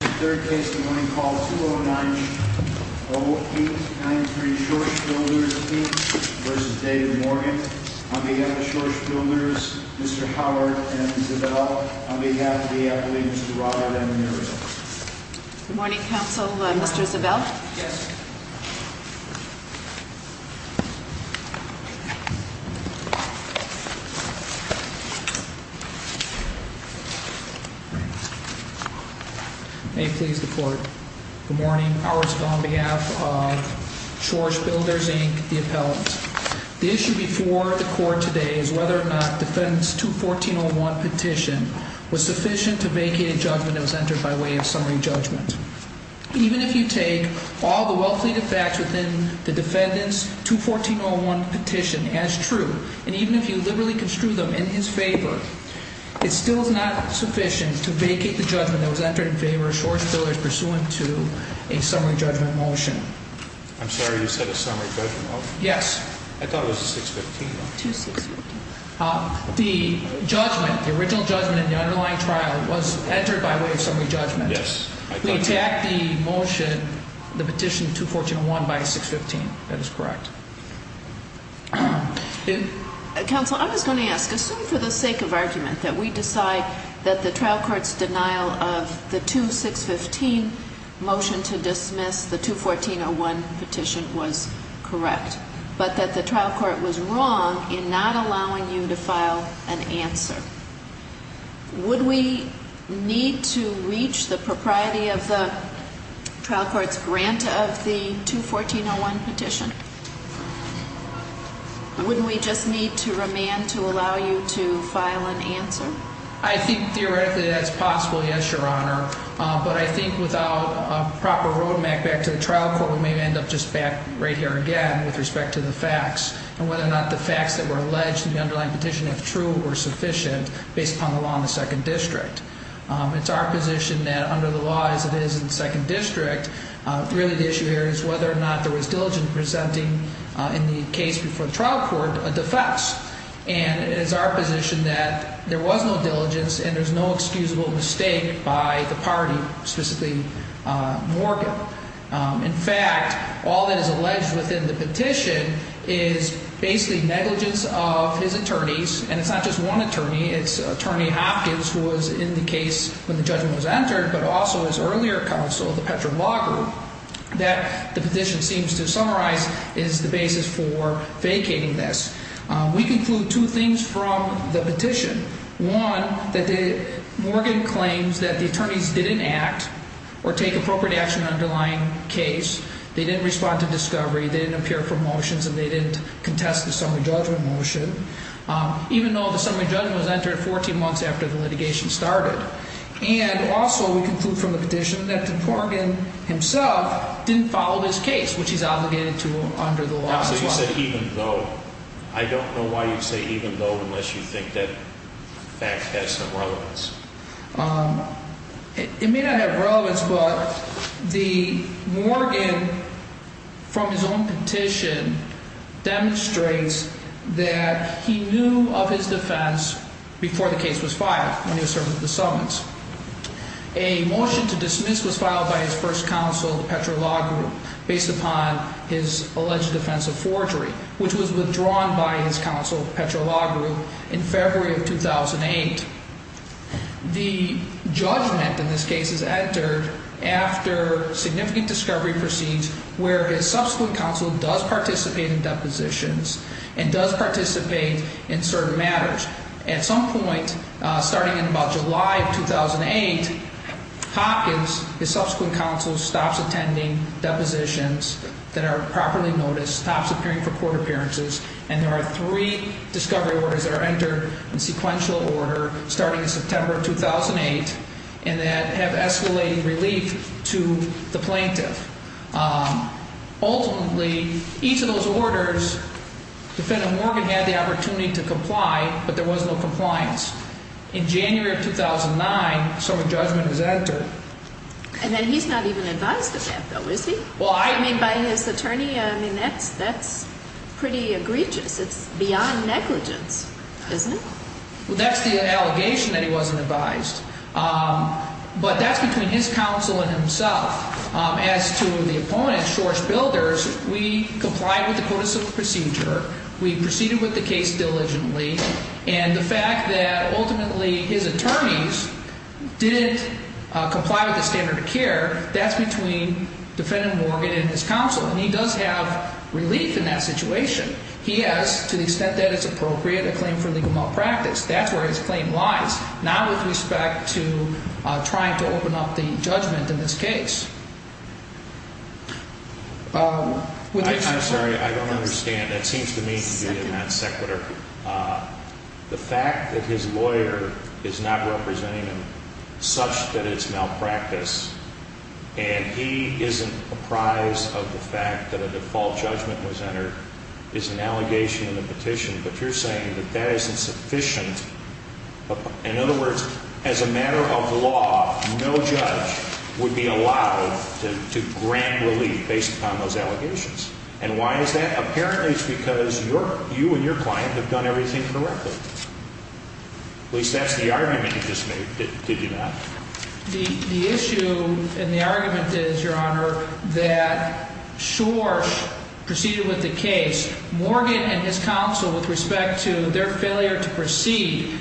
On behalf of the Schors Builders, Mr. Howard and Mr. Zabell, on behalf of the, I believe, Mr. Roddard and the Mayor's Office. Good morning, Council. Mr. Zabell? Yes, ma'am. May it please the Court. Good morning. Howard Spill on behalf of Schors Builders, Inc., the appellant. The issue before the Court today is whether or not defendant's 214.01 petition was sufficient to vacate a judgment that was entered by way of summary judgment. Even if you take all the well-pleaded facts within the defendant's 214.01 petition as true, and even if you liberally construe them in his favor, it still is not sufficient to vacate the judgment that was entered in favor of Schors Builders pursuant to a summary judgment motion. I'm sorry. You said a summary judgment? Yes. I thought it was a 615. The judgment, the original judgment in the underlying trial, was entered by way of summary judgment. Yes. We attacked the motion, the petition, 214.01 by a 615. That is correct. Counsel, I was going to ask, assume for the sake of argument that we decide that the trial court's denial of the 2615 motion to dismiss the 214.01 petition was correct, but that the trial court was wrong in not allowing you to file an answer. Would we need to reach the propriety of the trial court's grant of the 214.01 petition? Wouldn't we just need to remand to allow you to file an answer? I think theoretically that's possible, yes, Your Honor, but I think without a proper road map back to the trial court, we may end up just back right here again with respect to the facts and whether or not the facts that were alleged in the underlying petition, if true, were sufficient based upon the law in the second district. It's our position that under the law as it is in the second district, really the issue here is whether or not there was diligence presenting in the case before the trial court a defense. And it is our position that there was no diligence and there's no excusable mistake by the party, specifically Morgan. In fact, all that is alleged within the petition is basically negligence of his attorneys, and it's not just one attorney. It's Attorney Hopkins, who was in the case when the judgment was entered, but also his earlier counsel, the Petra Law Group, that the petition seems to summarize is the basis for vacating this. We conclude two things from the petition. One, that Morgan claims that the attorneys didn't act or take appropriate action in the underlying case. They didn't respond to discovery. They didn't appear for motions, and they didn't contest the summary judgment motion, even though the summary judgment was entered 14 months after the litigation started. And also we conclude from the petition that Morgan himself didn't follow this case, which he's obligated to under the law as well. I don't know why you'd say even though, unless you think that fact has some relevance. It may not have relevance, but the Morgan, from his own petition, demonstrates that he knew of his defense before the case was filed, when he was serving at the summons. A motion to dismiss was filed by his first counsel, the Petra Law Group, based upon his alleged offense of forgery, which was withdrawn by his counsel, Petra Law Group, in February of 2008. The judgment in this case is entered after significant discovery proceeds where his subsequent counsel does participate in depositions and does participate in certain matters. At some point, starting in about July of 2008, Hopkins, his subsequent counsel, stops attending depositions that are properly noticed, stops appearing for court appearances, and there are three discovery orders that are entered in sequential order, starting in September of 2008, and that have escalated relief to the plaintiff. Ultimately, each of those orders, defendant Morgan had the opportunity to comply, but there was no compliance. In January of 2009, some judgment was entered. And then he's not even advised of that, though, is he? Well, I... I mean, by his attorney, I mean, that's pretty egregious. It's beyond negligence, isn't it? Well, that's the allegation that he wasn't advised. But that's between his counsel and himself. As to the opponent, Shor's Builders, we complied with the codicil procedure. We proceeded with the case diligently. And the fact that ultimately his attorneys didn't comply with the standard of care, that's between defendant Morgan and his counsel. And he does have relief in that situation. He has, to the extent that it's appropriate, a claim for legal malpractice. That's where his claim lies. Now with respect to trying to open up the judgment in this case. I'm sorry, I don't understand. That seems to me to be in that sequitur. The fact that his lawyer is not representing him, such that it's malpractice, and he isn't apprised of the fact that a default judgment was entered, is an allegation in the petition. But you're saying that that is insufficient. In other words, as a matter of law, no judge would be allowed to grant relief based upon those allegations. And why is that? Apparently it's because you and your client have done everything correctly. At least that's the argument he just made, did you not? The issue and the argument is, Your Honor, that Shor proceeded with the case. Morgan and his counsel, with respect to their failure to proceed,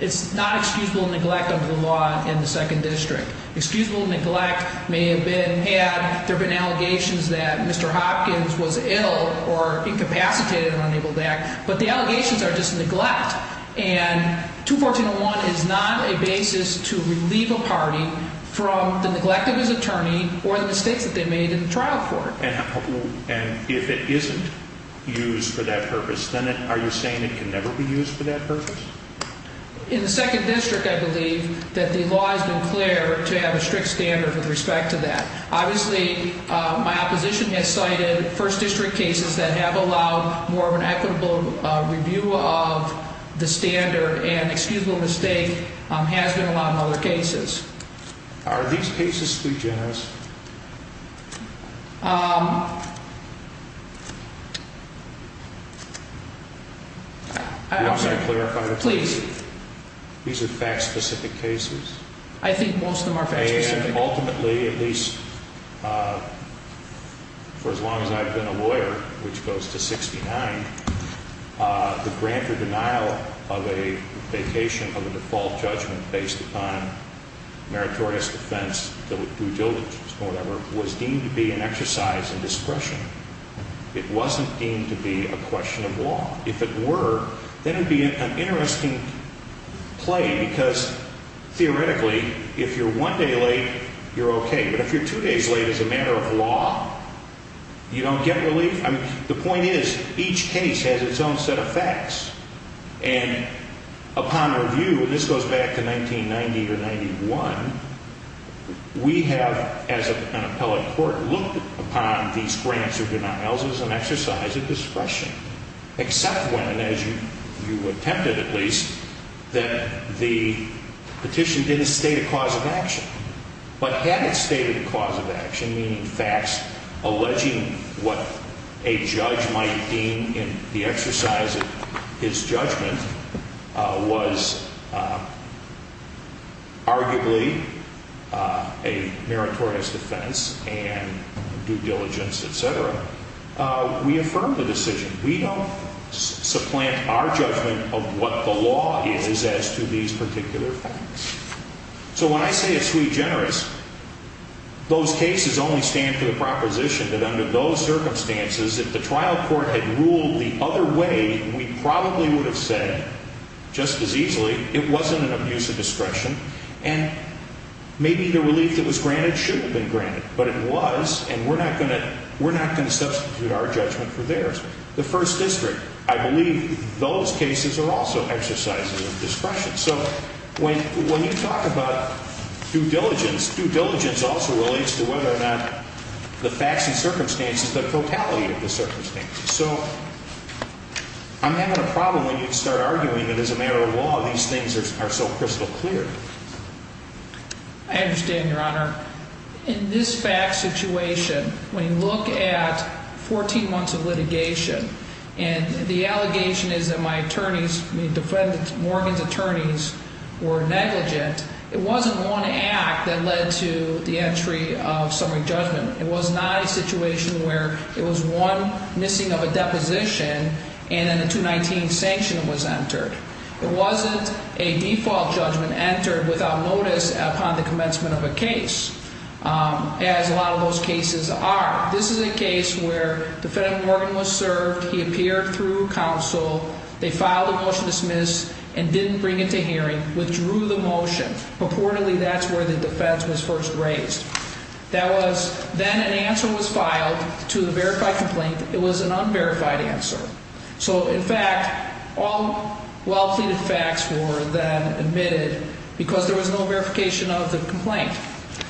it's not excusable neglect under the law in the Second District. Excusable neglect may have been had. There have been allegations that Mr. Hopkins was ill or incapacitated and unable to act. But the allegations are just neglect. And 214.01 is not a basis to relieve a party from the neglect of his attorney or the mistakes that they made in the trial court. And if it isn't used for that purpose, then are you saying it can never be used for that purpose? In the Second District, I believe that the law has been clear to have a strict standard with respect to that. Obviously, my opposition has cited First District cases that have allowed more of an equitable review of the standard and excusable mistake has been allowed in other cases. Are these cases sui generis? Please. These are fact-specific cases? I think most of them are fact-specific. And ultimately, at least for as long as I've been a lawyer, which goes to 69, the grant or denial of a vacation of a default judgment based upon meritorious defense to due diligence or whatever was deemed to be an exercise in discretion. It wasn't deemed to be a question of law. If it were, then it would be an interesting play because theoretically, if you're one day late, you're okay. But if you're two days late as a matter of law, you don't get relief? I mean, the point is each case has its own set of facts. And upon review, and this goes back to 1990 or 91, we have, as an appellate court, looked upon these grants or denials as an exercise of discretion, except when, as you attempted at least, that the petition didn't state a cause of action. But had it stated a cause of action, meaning facts alleging what a judge might deem in the exercise of his judgment, was arguably a meritorious defense and due diligence, et cetera, we affirm the decision. We don't supplant our judgment of what the law is as to these particular facts. So when I say it's regenerous, those cases only stand for the proposition that under those circumstances, if the trial court had ruled the other way, we probably would have said just as easily, it wasn't an abuse of discretion, and maybe the relief that was granted should have been granted. But it was, and we're not going to substitute our judgment for theirs. The First District, I believe those cases are also exercises of discretion. So when you talk about due diligence, due diligence also relates to whether or not the facts and circumstances, the totality of the circumstances. So I'm having a problem when you start arguing that as a matter of law, these things are so crystal clear. I understand, Your Honor. In this fact situation, when you look at 14 months of litigation, and the allegation is that my attorneys, Morgan's attorneys, were negligent, it wasn't one act that led to the entry of summary judgment. It was not a situation where it was one missing of a deposition and then a 219 sanction was entered. It wasn't a default judgment entered without notice upon the commencement of a case, as a lot of those cases are. Now, this is a case where defendant Morgan was served. He appeared through counsel. They filed a motion to dismiss and didn't bring it to hearing, withdrew the motion. Purportedly, that's where the defense was first raised. That was, then an answer was filed to the verified complaint. It was an unverified answer. So, in fact, all well-pleaded facts were then admitted because there was no verification of the complaint,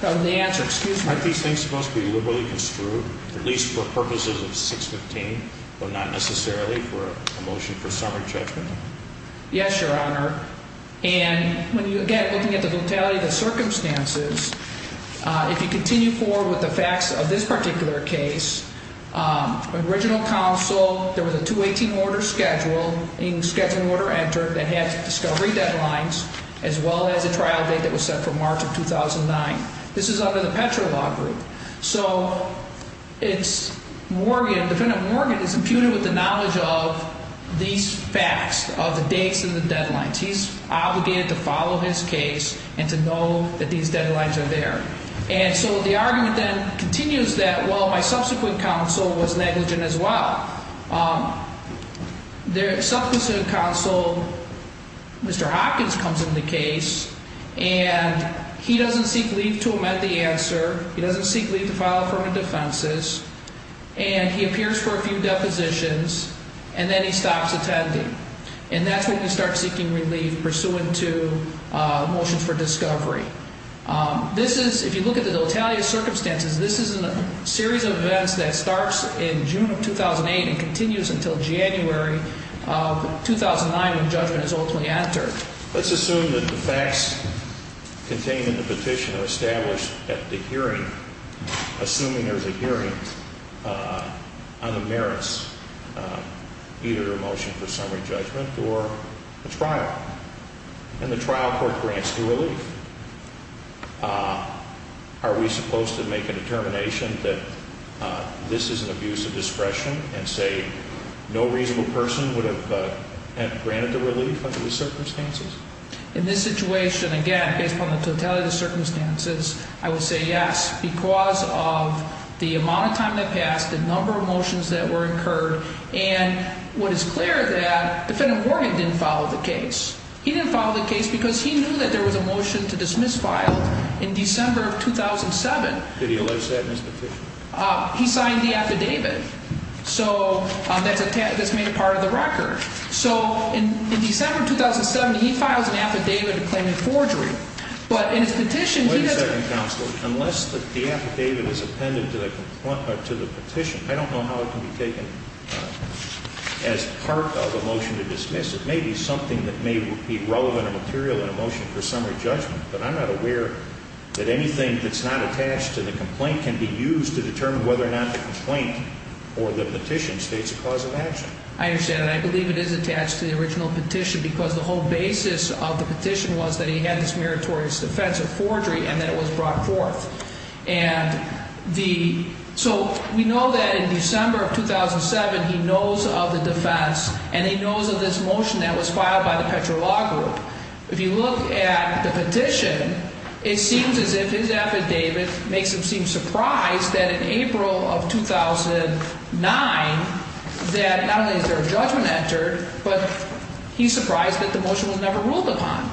of the answer. Excuse me. Aren't these things supposed to be liberally construed, at least for purposes of 615, but not necessarily for a motion for summary judgment? Yes, Your Honor. And when you, again, looking at the totality of the circumstances, if you continue forward with the facts of this particular case, original counsel, there was a 218 order scheduled, a scheduling order entered that had discovery deadlines, as well as a trial date that was set for March of 2009. This is under the Petro Law Group. So it's Morgan, defendant Morgan is imputed with the knowledge of these facts, of the dates and the deadlines. He's obligated to follow his case and to know that these deadlines are there. And so the argument then continues that, well, my subsequent counsel was negligent as well. The subsequent counsel, Mr. Hopkins, comes into the case, and he doesn't seek leave to amend the answer. He doesn't seek leave to file affirmative defenses. And he appears for a few depositions, and then he stops attending. And that's when you start seeking relief pursuant to motions for discovery. This is, if you look at the totality of circumstances, this is a series of events that starts in June of 2008 and continues until January of 2009 when judgment is ultimately entered. Let's assume that the facts contained in the petition are established at the hearing, assuming there's a hearing on the merits, either a motion for summary judgment or a trial. And the trial court grants the relief. Are we supposed to make a determination that this is an abuse of discretion and say no reasonable person would have granted the relief under these circumstances? In this situation, again, based upon the totality of the circumstances, I would say yes because of the amount of time that passed, the number of motions that were incurred, and what is clear is that Defendant Morgan didn't follow the case. He didn't follow the case because he knew that there was a motion to dismiss filed in December of 2007. Did he list that in his petition? He signed the affidavit. So that's made a part of the record. So in December of 2007, he files an affidavit claiming forgery. But in his petition, he doesn't. Wait a second, counsel. Unless the affidavit is appended to the petition, I don't know how it can be taken as part of a motion to dismiss. It may be something that may be relevant or material in a motion for summary judgment, but I'm not aware that anything that's not attached to the complaint can be used to determine whether or not the complaint or the petition states a cause of action. I understand that. I believe it is attached to the original petition because the whole basis of the petition was that he had this meritorious offense of forgery and that it was brought forth. So we know that in December of 2007, he knows of the defense, and he knows of this motion that was filed by the Petro Law Group. If you look at the petition, it seems as if his affidavit makes him seem surprised that in April of 2009, that not only is there a judgment entered, but he's surprised that the motion was never ruled upon.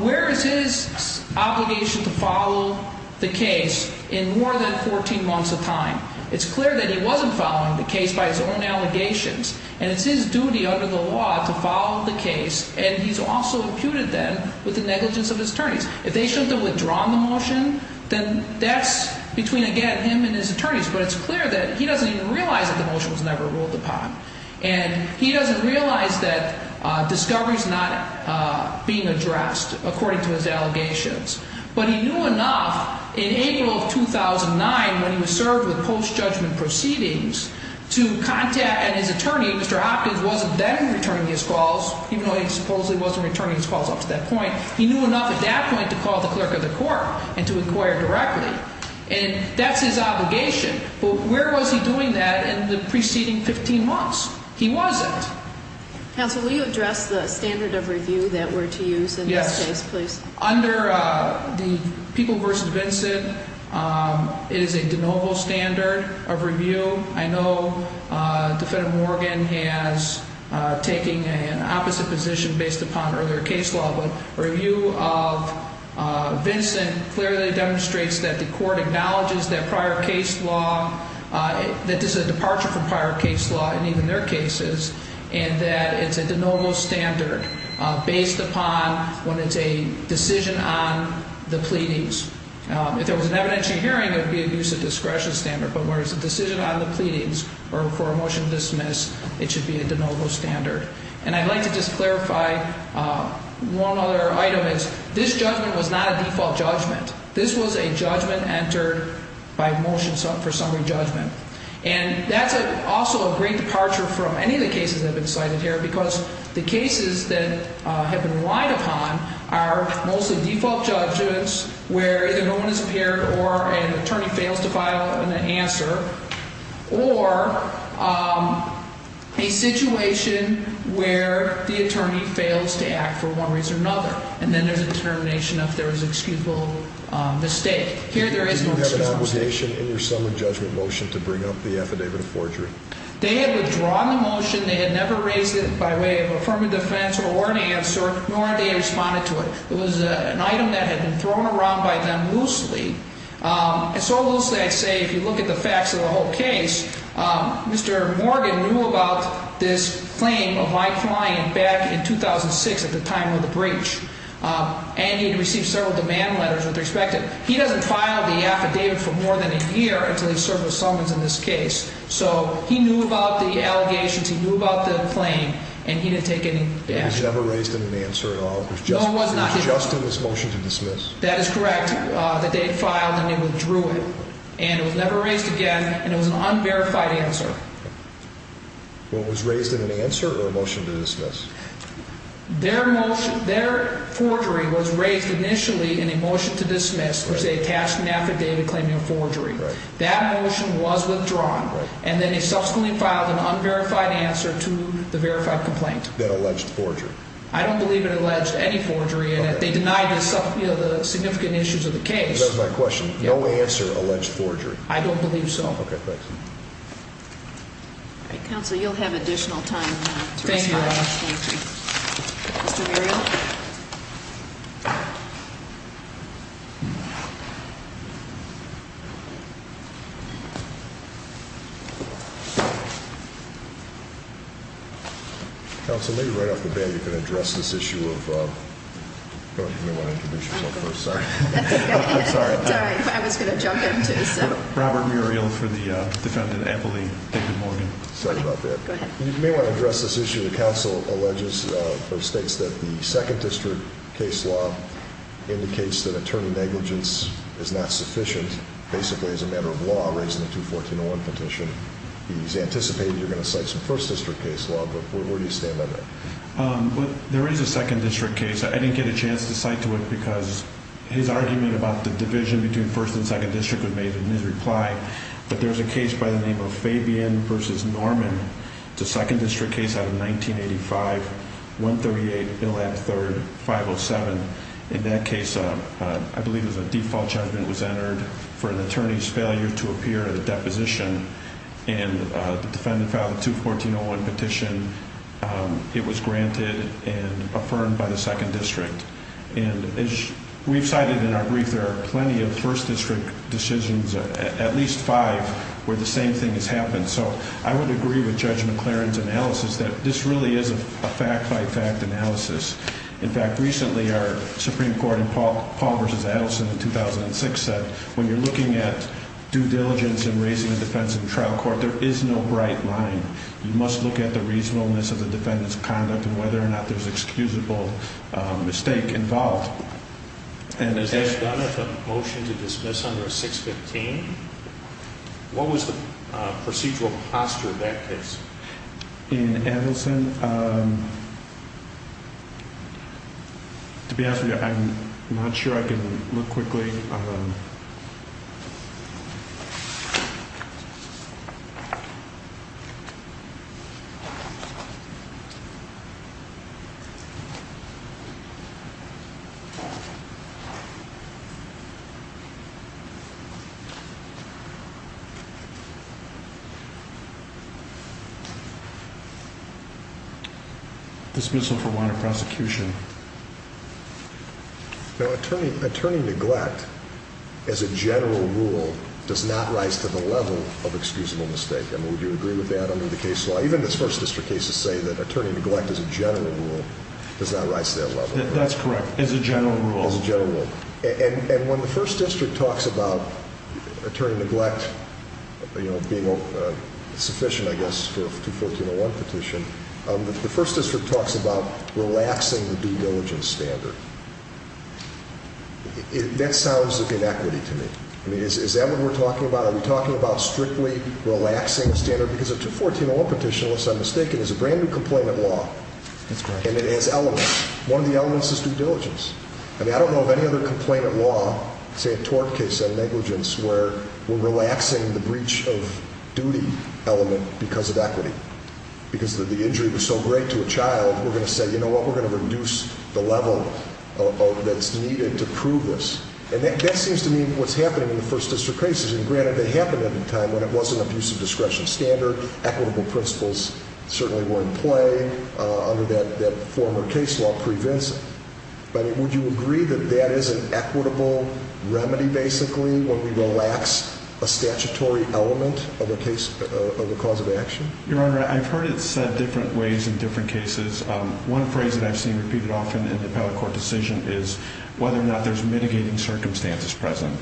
Where is his obligation to follow the case in more than 14 months of time? It's clear that he wasn't following the case by his own allegations, and it's his duty under the law to follow the case, and he's also imputed that with the negligence of his attorneys. If they shouldn't have withdrawn the motion, then that's between, again, him and his attorneys. But it's clear that he doesn't even realize that the motion was never ruled upon, and he doesn't realize that discovery is not being addressed according to his allegations. But he knew enough in April of 2009, when he was served with post-judgment proceedings, to contact his attorney. Mr. Hopkins wasn't then returning his calls, even though he supposedly wasn't returning his calls up to that point. He knew enough at that point to call the clerk of the court and to inquire directly, and that's his obligation. But where was he doing that in the preceding 15 months? He wasn't. Counsel, will you address the standard of review that we're to use in this case, please? Yes. Under the People v. Vincent, it is a de novo standard of review. I know Defendant Morgan has taken an opposite position based upon earlier case law, but review of Vincent clearly demonstrates that the court acknowledges that prior case law, that this is a departure from prior case law in even their cases, and that it's a de novo standard based upon when it's a decision on the pleadings. If there was an evidentiary hearing, it would be a use of discretion standard, but where it's a decision on the pleadings or for a motion to dismiss, it should be a de novo standard. And I'd like to just clarify one other item is this judgment was not a default judgment. This was a judgment entered by motion for summary judgment. And that's also a great departure from any of the cases that have been cited here because the cases that have been relied upon are mostly default judgments where either no one has appeared or an attorney fails to file an answer or a situation where the attorney fails to act for one reason or another, and then there's a determination if there was excusable mistake. Here there is no excusable mistake. Did you have an obligation in your summary judgment motion to bring up the affidavit of forgery? They had withdrawn the motion. They had never raised it by way of affirmative defense or warranted answer, nor had they responded to it. It was an item that had been thrown around by them loosely. And so loosely I'd say if you look at the facts of the whole case, Mr. Morgan knew about this claim of my client back in 2006 at the time of the breach, and he had received several demand letters with respect to it. He doesn't file the affidavit for more than a year until he's served with summons in this case. So he knew about the allegations. He knew about the claim, and he didn't take any action. He never raised an answer at all. No, he was not. It was just in his motion to dismiss. That is correct, that they had filed and they withdrew it. And it was never raised again, and it was an unverified answer. Well, it was raised in an answer or a motion to dismiss? Their forgery was raised initially in a motion to dismiss, which they attached an affidavit claiming a forgery. That motion was withdrawn, and then they subsequently filed an unverified answer to the verified complaint. That alleged forgery. I don't believe it alleged any forgery in it. They denied the significant issues of the case. That is my question. No answer alleged forgery? I don't believe so. Okay, thanks. All right, Counsel, you'll have additional time to respond. Thank you very much. Thank you. Mr. Muriel. Counsel, maybe right off the bat you can address this issue of – you may want to introduce yourself first. Sorry. That's okay. I'm sorry. It's all right. I was going to jump in, too, so. Robert Muriel for the defendant, Emily Dickin Morgan. Sorry about that. Go ahead. was not the first-degree murder of the defendant. It was the second-degree murder of the defendant. The second-district case law indicates that attorney negligence is not sufficient, basically, as a matter of law, raising the 214.01 petition. It is anticipated you're going to cite some first-district case law, but where do you stand on that? There is a second-district case. I didn't get a chance to cite to it because his argument about the division between first and second district was made in his reply. But there's a case by the name of Fabian v. Norman. It's a second-district case out of 1985, 138, 113, 507. In that case, I believe it was a default judgment was entered for an attorney's failure to appear at a deposition. And the defendant filed a 214.01 petition. It was granted and affirmed by the second district. And as we've cited in our brief, there are plenty of first-district decisions, at least five, where the same thing has happened. So I would agree with Judge McLaren's analysis that this really is a fact-by-fact analysis. In fact, recently, our Supreme Court in Paul v. Adelson in 2006 said, when you're looking at due diligence in raising a defense in trial court, there is no bright line. You must look at the reasonableness of the defendant's conduct and whether or not there's excusable mistake involved. Has this been a motion to dismiss under 615? What was the procedural posture of that case? In Adelson, to be honest with you, I'm not sure I can look quickly. This missile for warrant of prosecution. Now, attorney neglect, as a general rule, does not rise to the level of excusable mistake. And would you agree with that under the case law? Even the first-district cases say that attorney neglect, as a general rule, does not rise to that level. That's correct, as a general rule. As a general rule. And when the first district talks about attorney neglect being sufficient, I guess, to a 214.01 petition, the first district talks about relaxing the due diligence standard. That sounds like inequity to me. I mean, is that what we're talking about? Are we talking about strictly relaxing the standard? Because a 214.01 petition, unless I'm mistaken, is a brand-new complainant law. That's correct. And it has elements. One of the elements is due diligence. I mean, I don't know of any other complainant law, say a tort case on negligence, where we're relaxing the breach of duty element because of equity. Because the injury was so great to a child, we're going to say, you know what, we're going to reduce the level that's needed to prove this. And that seems to me what's happening in the first-district cases. And granted, they happened at a time when it was an abusive discretion standard. Equitable principles certainly were in play under that former case law, pre-vis. But would you agree that that is an equitable remedy, basically, when we relax a statutory element of a cause of action? Your Honor, I've heard it said different ways in different cases. One phrase that I've seen repeated often in the appellate court decision is whether or not there's mitigating circumstances present.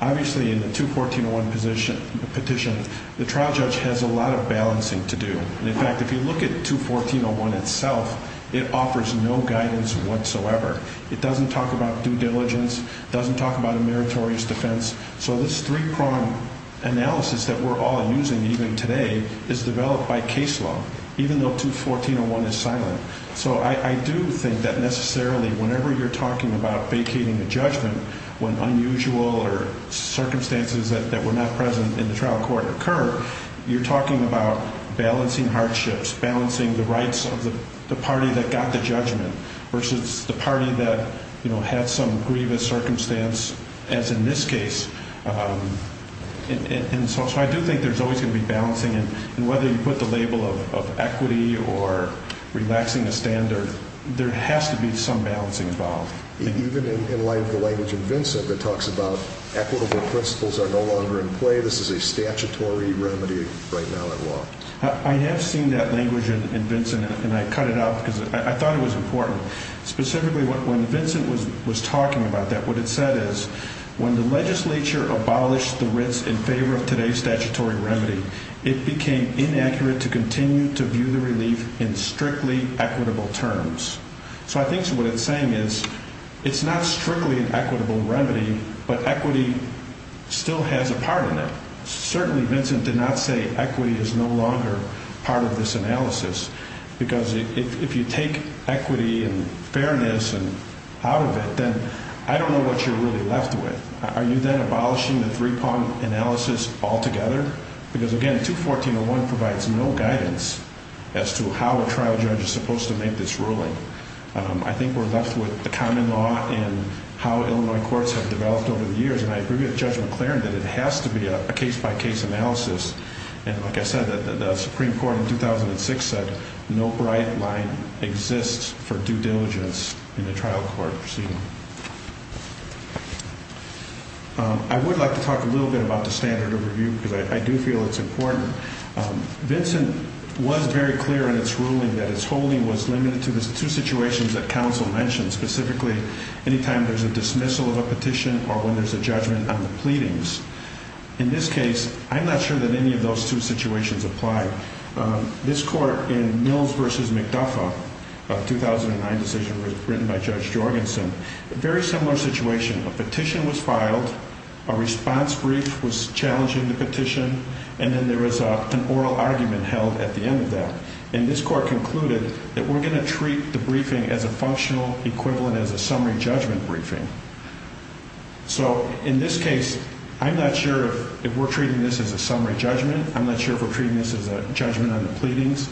Obviously, in the 214.01 petition, the trial judge has a lot of balancing to do. In fact, if you look at 214.01 itself, it offers no guidance whatsoever. It doesn't talk about due diligence. It doesn't talk about a meritorious defense. So this three-prong analysis that we're all using even today is developed by case law, even though 214.01 is silent. So I do think that necessarily whenever you're talking about vacating a judgment when unusual or circumstances that were not present in the trial court occur, you're talking about balancing hardships, balancing the rights of the party that got the judgment versus the party that, you know, had some grievous circumstance, as in this case. And so I do think there's always going to be balancing. And whether you put the label of equity or relaxing a standard, there has to be some balancing involved. Even in light of the language in Vincent that talks about equitable principles are no longer in play, this is a statutory remedy right now in law. I have seen that language in Vincent, and I cut it out because I thought it was important. Specifically, when Vincent was talking about that, what it said is, when the legislature abolished the writs in favor of today's statutory remedy, it became inaccurate to continue to view the relief in strictly equitable terms. So I think what it's saying is it's not strictly an equitable remedy, but equity still has a part in it. Certainly Vincent did not say equity is no longer part of this analysis, because if you take equity and fairness out of it, then I don't know what you're really left with. Are you then abolishing the three-part analysis altogether? Because, again, 214.01 provides no guidance as to how a trial judge is supposed to make this ruling. I think we're left with the common law and how Illinois courts have developed over the years, and I agree with Judge McLaren that it has to be a case-by-case analysis. And like I said, the Supreme Court in 2006 said no bright line exists for due diligence in a trial court proceeding. I would like to talk a little bit about the standard of review, because I do feel it's important. Vincent was very clear in its ruling that its holding was limited to the two situations that counsel mentioned, specifically anytime there's a dismissal of a petition or when there's a judgment on the pleadings. In this case, I'm not sure that any of those two situations apply. This court in Mills v. McDuffie, a 2009 decision written by Judge Jorgensen, a very similar situation. A petition was filed, a response brief was challenging the petition, and then there was an oral argument held at the end of that. And this court concluded that we're going to treat the briefing as a functional equivalent as a summary judgment briefing. So in this case, I'm not sure if we're treating this as a summary judgment. I'm not sure if we're treating this as a judgment on the pleadings.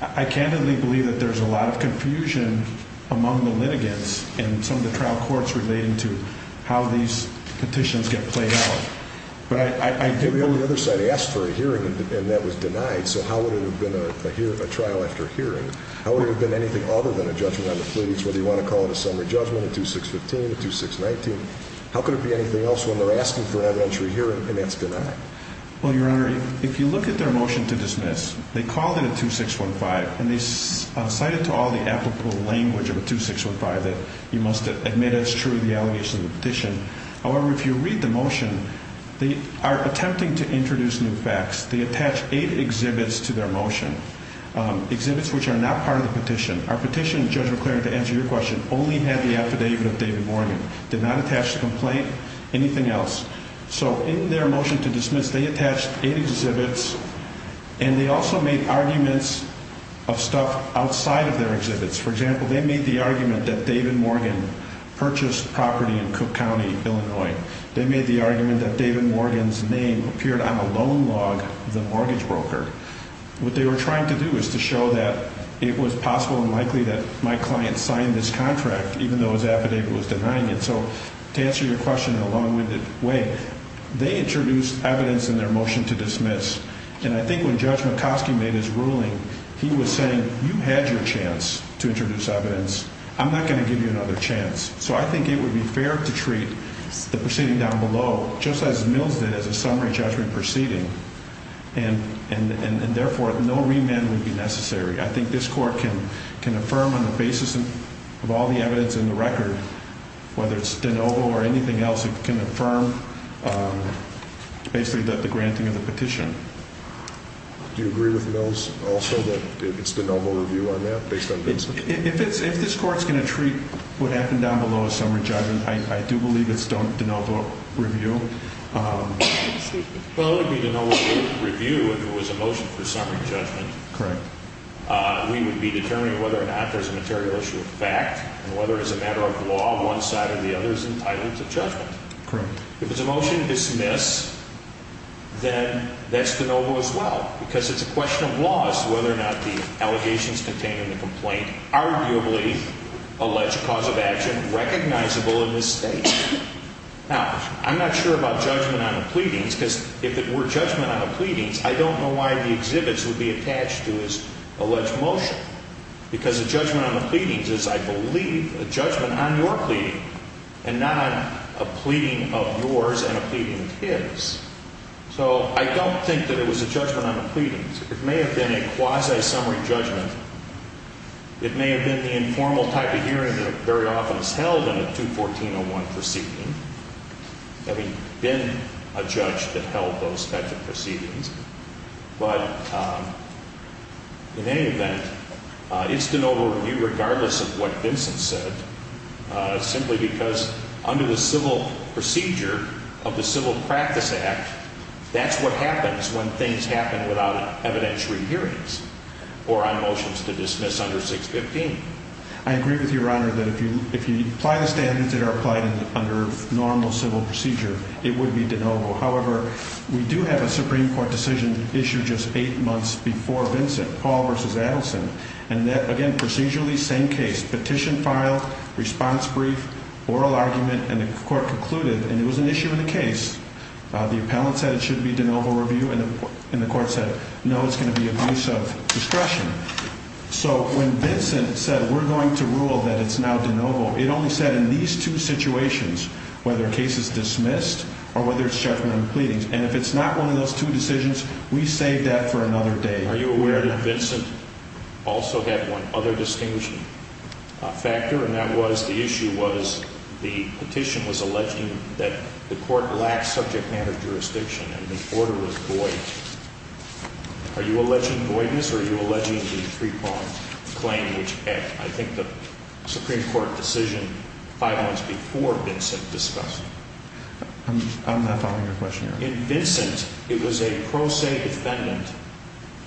I candidly believe that there's a lot of confusion among the litigants and some of the trial courts relating to how these petitions get played out. But on the other side, they asked for a hearing and that was denied. So how would it have been a trial after hearing? How would it have been anything other than a judgment on the pleadings? Whether you want to call it a summary judgment, a 2615, a 2619? How could it be anything else when they're asking for an evidentiary hearing and that's denied? Well, Your Honor, if you look at their motion to dismiss, they called it a 2615, and they cited to all the applicable language of a 2615 that you must admit it's true, the allegations of the petition. However, if you read the motion, they are attempting to introduce new facts. They attach eight exhibits to their motion, exhibits which are not part of the petition. Our petition, Judge McClaren, to answer your question, only had the affidavit of David Morgan, did not attach the complaint, anything else. So in their motion to dismiss, they attached eight exhibits, and they also made arguments of stuff outside of their exhibits. For example, they made the argument that David Morgan purchased property in Cook County, Illinois. They made the argument that David Morgan's name appeared on a loan log of the mortgage broker. What they were trying to do was to show that it was possible and likely that my client signed this contract, even though his affidavit was denying it. So to answer your question in a long-winded way, they introduced evidence in their motion to dismiss, and I think when Judge McCoskey made his ruling, he was saying you had your chance to introduce evidence. I'm not going to give you another chance. So I think it would be fair to treat the proceeding down below just as Mills did as a summary judgment proceeding, and therefore no remand would be necessary. I think this court can affirm on the basis of all the evidence in the record, whether it's de novo or anything else, it can affirm basically that the granting of the petition. Do you agree with Mills also that it's de novo review on that based on Vincent? If this court's going to treat what happened down below as summary judgment, I do believe it's de novo review. Well, it would be de novo review if it was a motion for summary judgment. Correct. We would be determining whether or not there's a material issue of fact and whether as a matter of law one side or the other is entitled to judgment. Correct. If it's a motion to dismiss, then that's de novo as well, because it's a question of laws whether or not the allegations contained in the complaint arguably allege cause of action recognizable in this state. Now, I'm not sure about judgment on the pleadings, because if it were judgment on the pleadings, I don't know why the exhibits would be attached to his alleged motion, because a judgment on the pleadings is, I believe, a judgment on your pleading and not on a pleading of yours and a pleading of his. So I don't think that it was a judgment on the pleadings. It may have been a quasi-summary judgment. It may have been the informal type of hearing that very often is held in a 214-01 proceeding, having been a judge that held those types of proceedings. But in any event, it's de novo review regardless of what Vincent said, simply because under the civil procedure of the Civil Practice Act, that's what happens when things happen without evidentiary hearings or on motions to dismiss under 615. I agree with Your Honor that if you apply the standards that are applied under normal civil procedure, it would be de novo. However, we do have a Supreme Court decision issued just eight months before Vincent, Paul v. Adelson, and that, again, procedurally, same case. Petition filed, response brief, oral argument, and the court concluded, and it was an issue in the case, the appellant said it should be de novo review, and the court said, no, it's going to be abuse of discretion. So when Vincent said, we're going to rule that it's now de novo, it only said in these two situations, whether a case is dismissed or whether it's judgmental pleadings. And if it's not one of those two decisions, we save that for another day. Are you aware that Vincent also had one other distinguishing factor, and that was the issue was the petition was alleging that the court lacked subject matter jurisdiction and the order was void. Are you alleging voidness or are you alleging the three-part claim, which I think the Supreme Court decision five months before Vincent discussed? I'm not following your question, Your Honor. In Vincent, it was a pro se defendant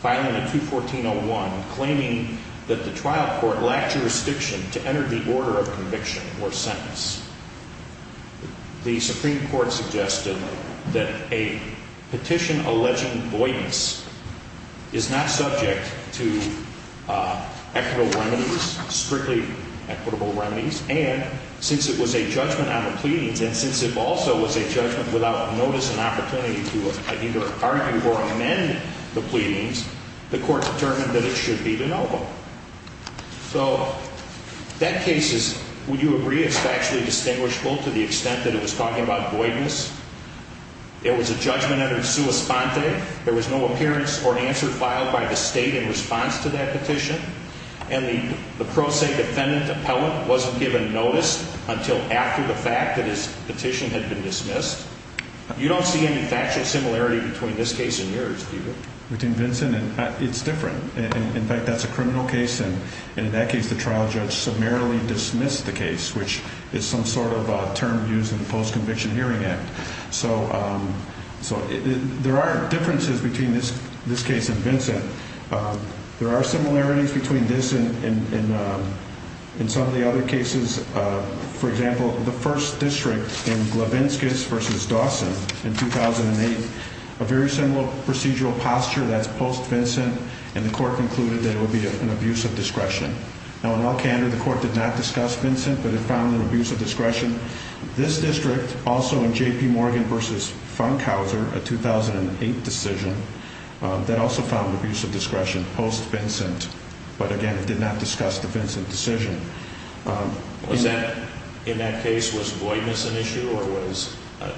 filing a 214-01 claiming that the trial court lacked jurisdiction to enter the order of conviction or sentence. The Supreme Court suggested that a petition alleging voidness is not subject to equitable remedies, strictly equitable remedies, and since it was a judgment on the pleadings, and since it also was a judgment without notice and opportunity to either argue or amend the pleadings, the court determined that it should be de novo. So that case is, would you agree, it's factually distinguishable to the extent that it was talking about voidness? It was a judgment under sua sponte. There was no appearance or answer filed by the state in response to that petition, and the pro se defendant appellant wasn't given notice until after the fact that his petition had been dismissed. You don't see any factual similarity between this case and yours, do you? Between Vincent, it's different. In fact, that's a criminal case, and in that case, the trial judge summarily dismissed the case, which is some sort of term used in the Post-Conviction Hearing Act. So there are differences between this case and Vincent. There are similarities between this and some of the other cases. For example, the first district in Glavinskas v. Dawson in 2008, a very similar procedural posture. That's post-Vincent, and the court concluded that it would be an abuse of discretion. Now, in Elkander, the court did not discuss Vincent, but it found an abuse of discretion. This district, also in J.P. Morgan v. Funkhauser, a 2008 decision, that also found abuse of discretion post-Vincent, but again, it did not discuss the Vincent decision. In that case, was voidness an issue or was it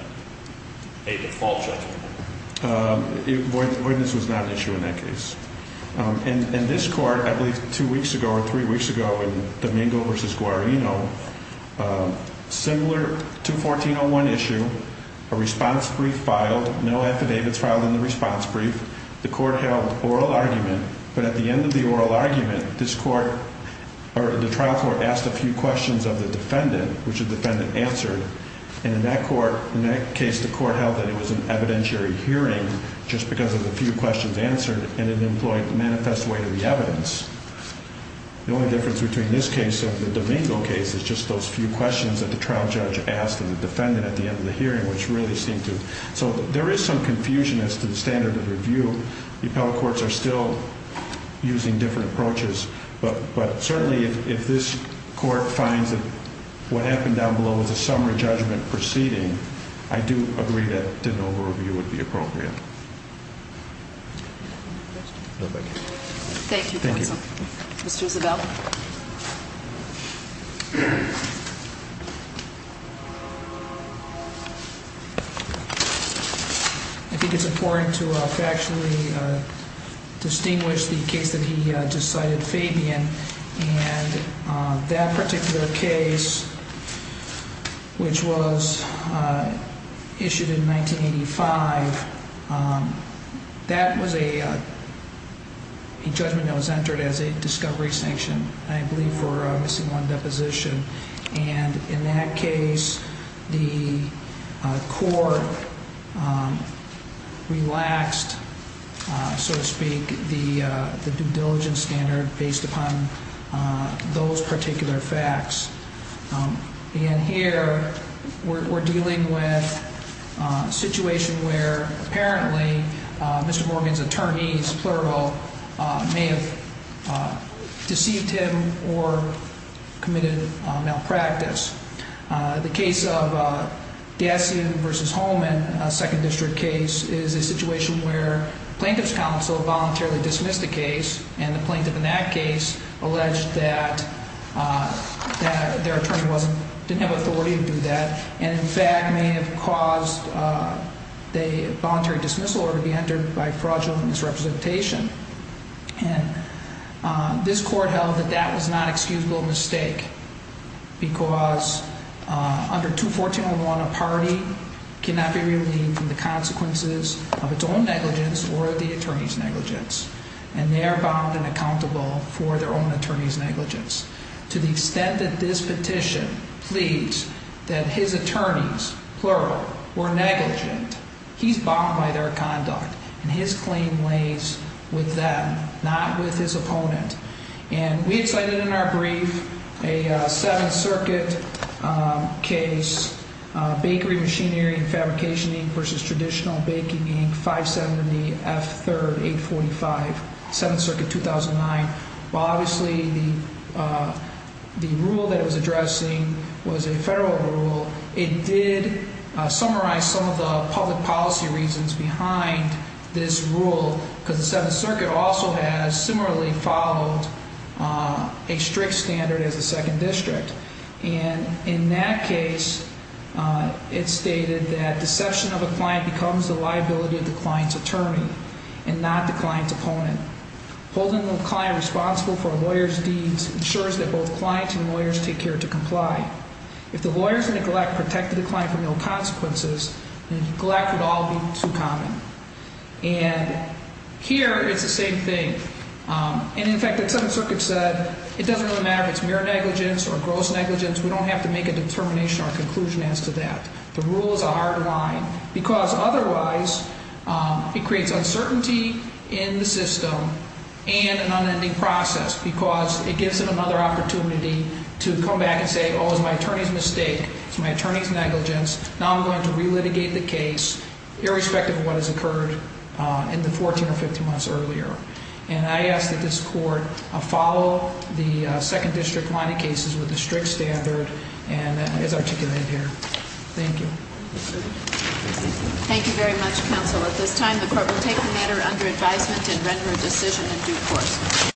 a default judgment? Voidness was not an issue in that case. In this court, I believe two weeks ago or three weeks ago in Domingo v. Guarino, a similar 214.01 issue, a response brief filed, no affidavits filed in the response brief. The court held oral argument, but at the end of the oral argument, the trial court asked a few questions of the defendant, which the defendant answered. And in that case, the court held that it was an evidentiary hearing just because of the few questions answered and it employed the manifest way to the evidence. The only difference between this case and the Domingo case is just those few questions that the trial judge asked of the defendant at the end of the hearing, which really seemed to... So there is some confusion as to the standard of review. The appellate courts are still using different approaches, but certainly if this court finds that what happened down below was a summary judgment proceeding, I do agree that an over-review would be appropriate. Thank you, counsel. Thank you. Mr. Isabel. I think it's important to factually distinguish the case that he just cited, Fabian, and that particular case, which was issued in 1985, that was a judgment that was entered as a discovery sanction, I believe, for missing one deposition. And in that case, the court relaxed, so to speak, the due diligence standard based upon those particular facts. And here, we're dealing with a situation where, apparently, Mr. Morgan's attorneys, plural, may have deceived him or committed malpractice. The case of Dasien v. Holman, a second district case, is a situation where plaintiff's counsel voluntarily dismissed the case, and the plaintiff in that case alleged that their attorney didn't have authority to do that, and, in fact, may have caused the voluntary dismissal order to be entered by fraudulent misrepresentation. And this court held that that was not excusable mistake, because under 214.1, a party cannot be relieved from the consequences of its own negligence or the attorney's negligence, and they are bound and accountable for their own attorney's negligence. To the extent that this petition pleads that his attorneys, plural, were negligent, he's bound by their conduct, and his claim lays with them, not with his opponent. And we had cited in our brief a Seventh Circuit case, Bakery Machinery and Fabrication Inc. v. Traditional Baking Inc., 570 F. 3rd, 845, Seventh Circuit, 2009. Well, obviously, the rule that it was addressing was a federal rule. It did summarize some of the public policy reasons behind this rule, because the Seventh Circuit also has similarly followed a strict standard as a second district. And in that case, it stated that deception of a client becomes the liability of the client's attorney and not the client's opponent. Holding the client responsible for a lawyer's deeds ensures that both clients and lawyers take care to comply. If the lawyer's neglect protected the client from ill consequences, neglect would all be too common. And here, it's the same thing. And, in fact, the Seventh Circuit said it doesn't really matter if it's mere negligence or gross negligence. We don't have to make a determination or a conclusion as to that. The rule is a hard line, because, otherwise, it creates uncertainty in the system and an unending process, because it gives them another opportunity to come back and say, oh, it was my attorney's mistake. It's my attorney's negligence. Now I'm going to relitigate the case, irrespective of what has occurred in the 14 or 15 months earlier. And I ask that this court follow the second district line of cases with the strict standard as articulated here. Thank you. Thank you very much, counsel. At this time, the court will take the matter under advisement and render a decision in due course.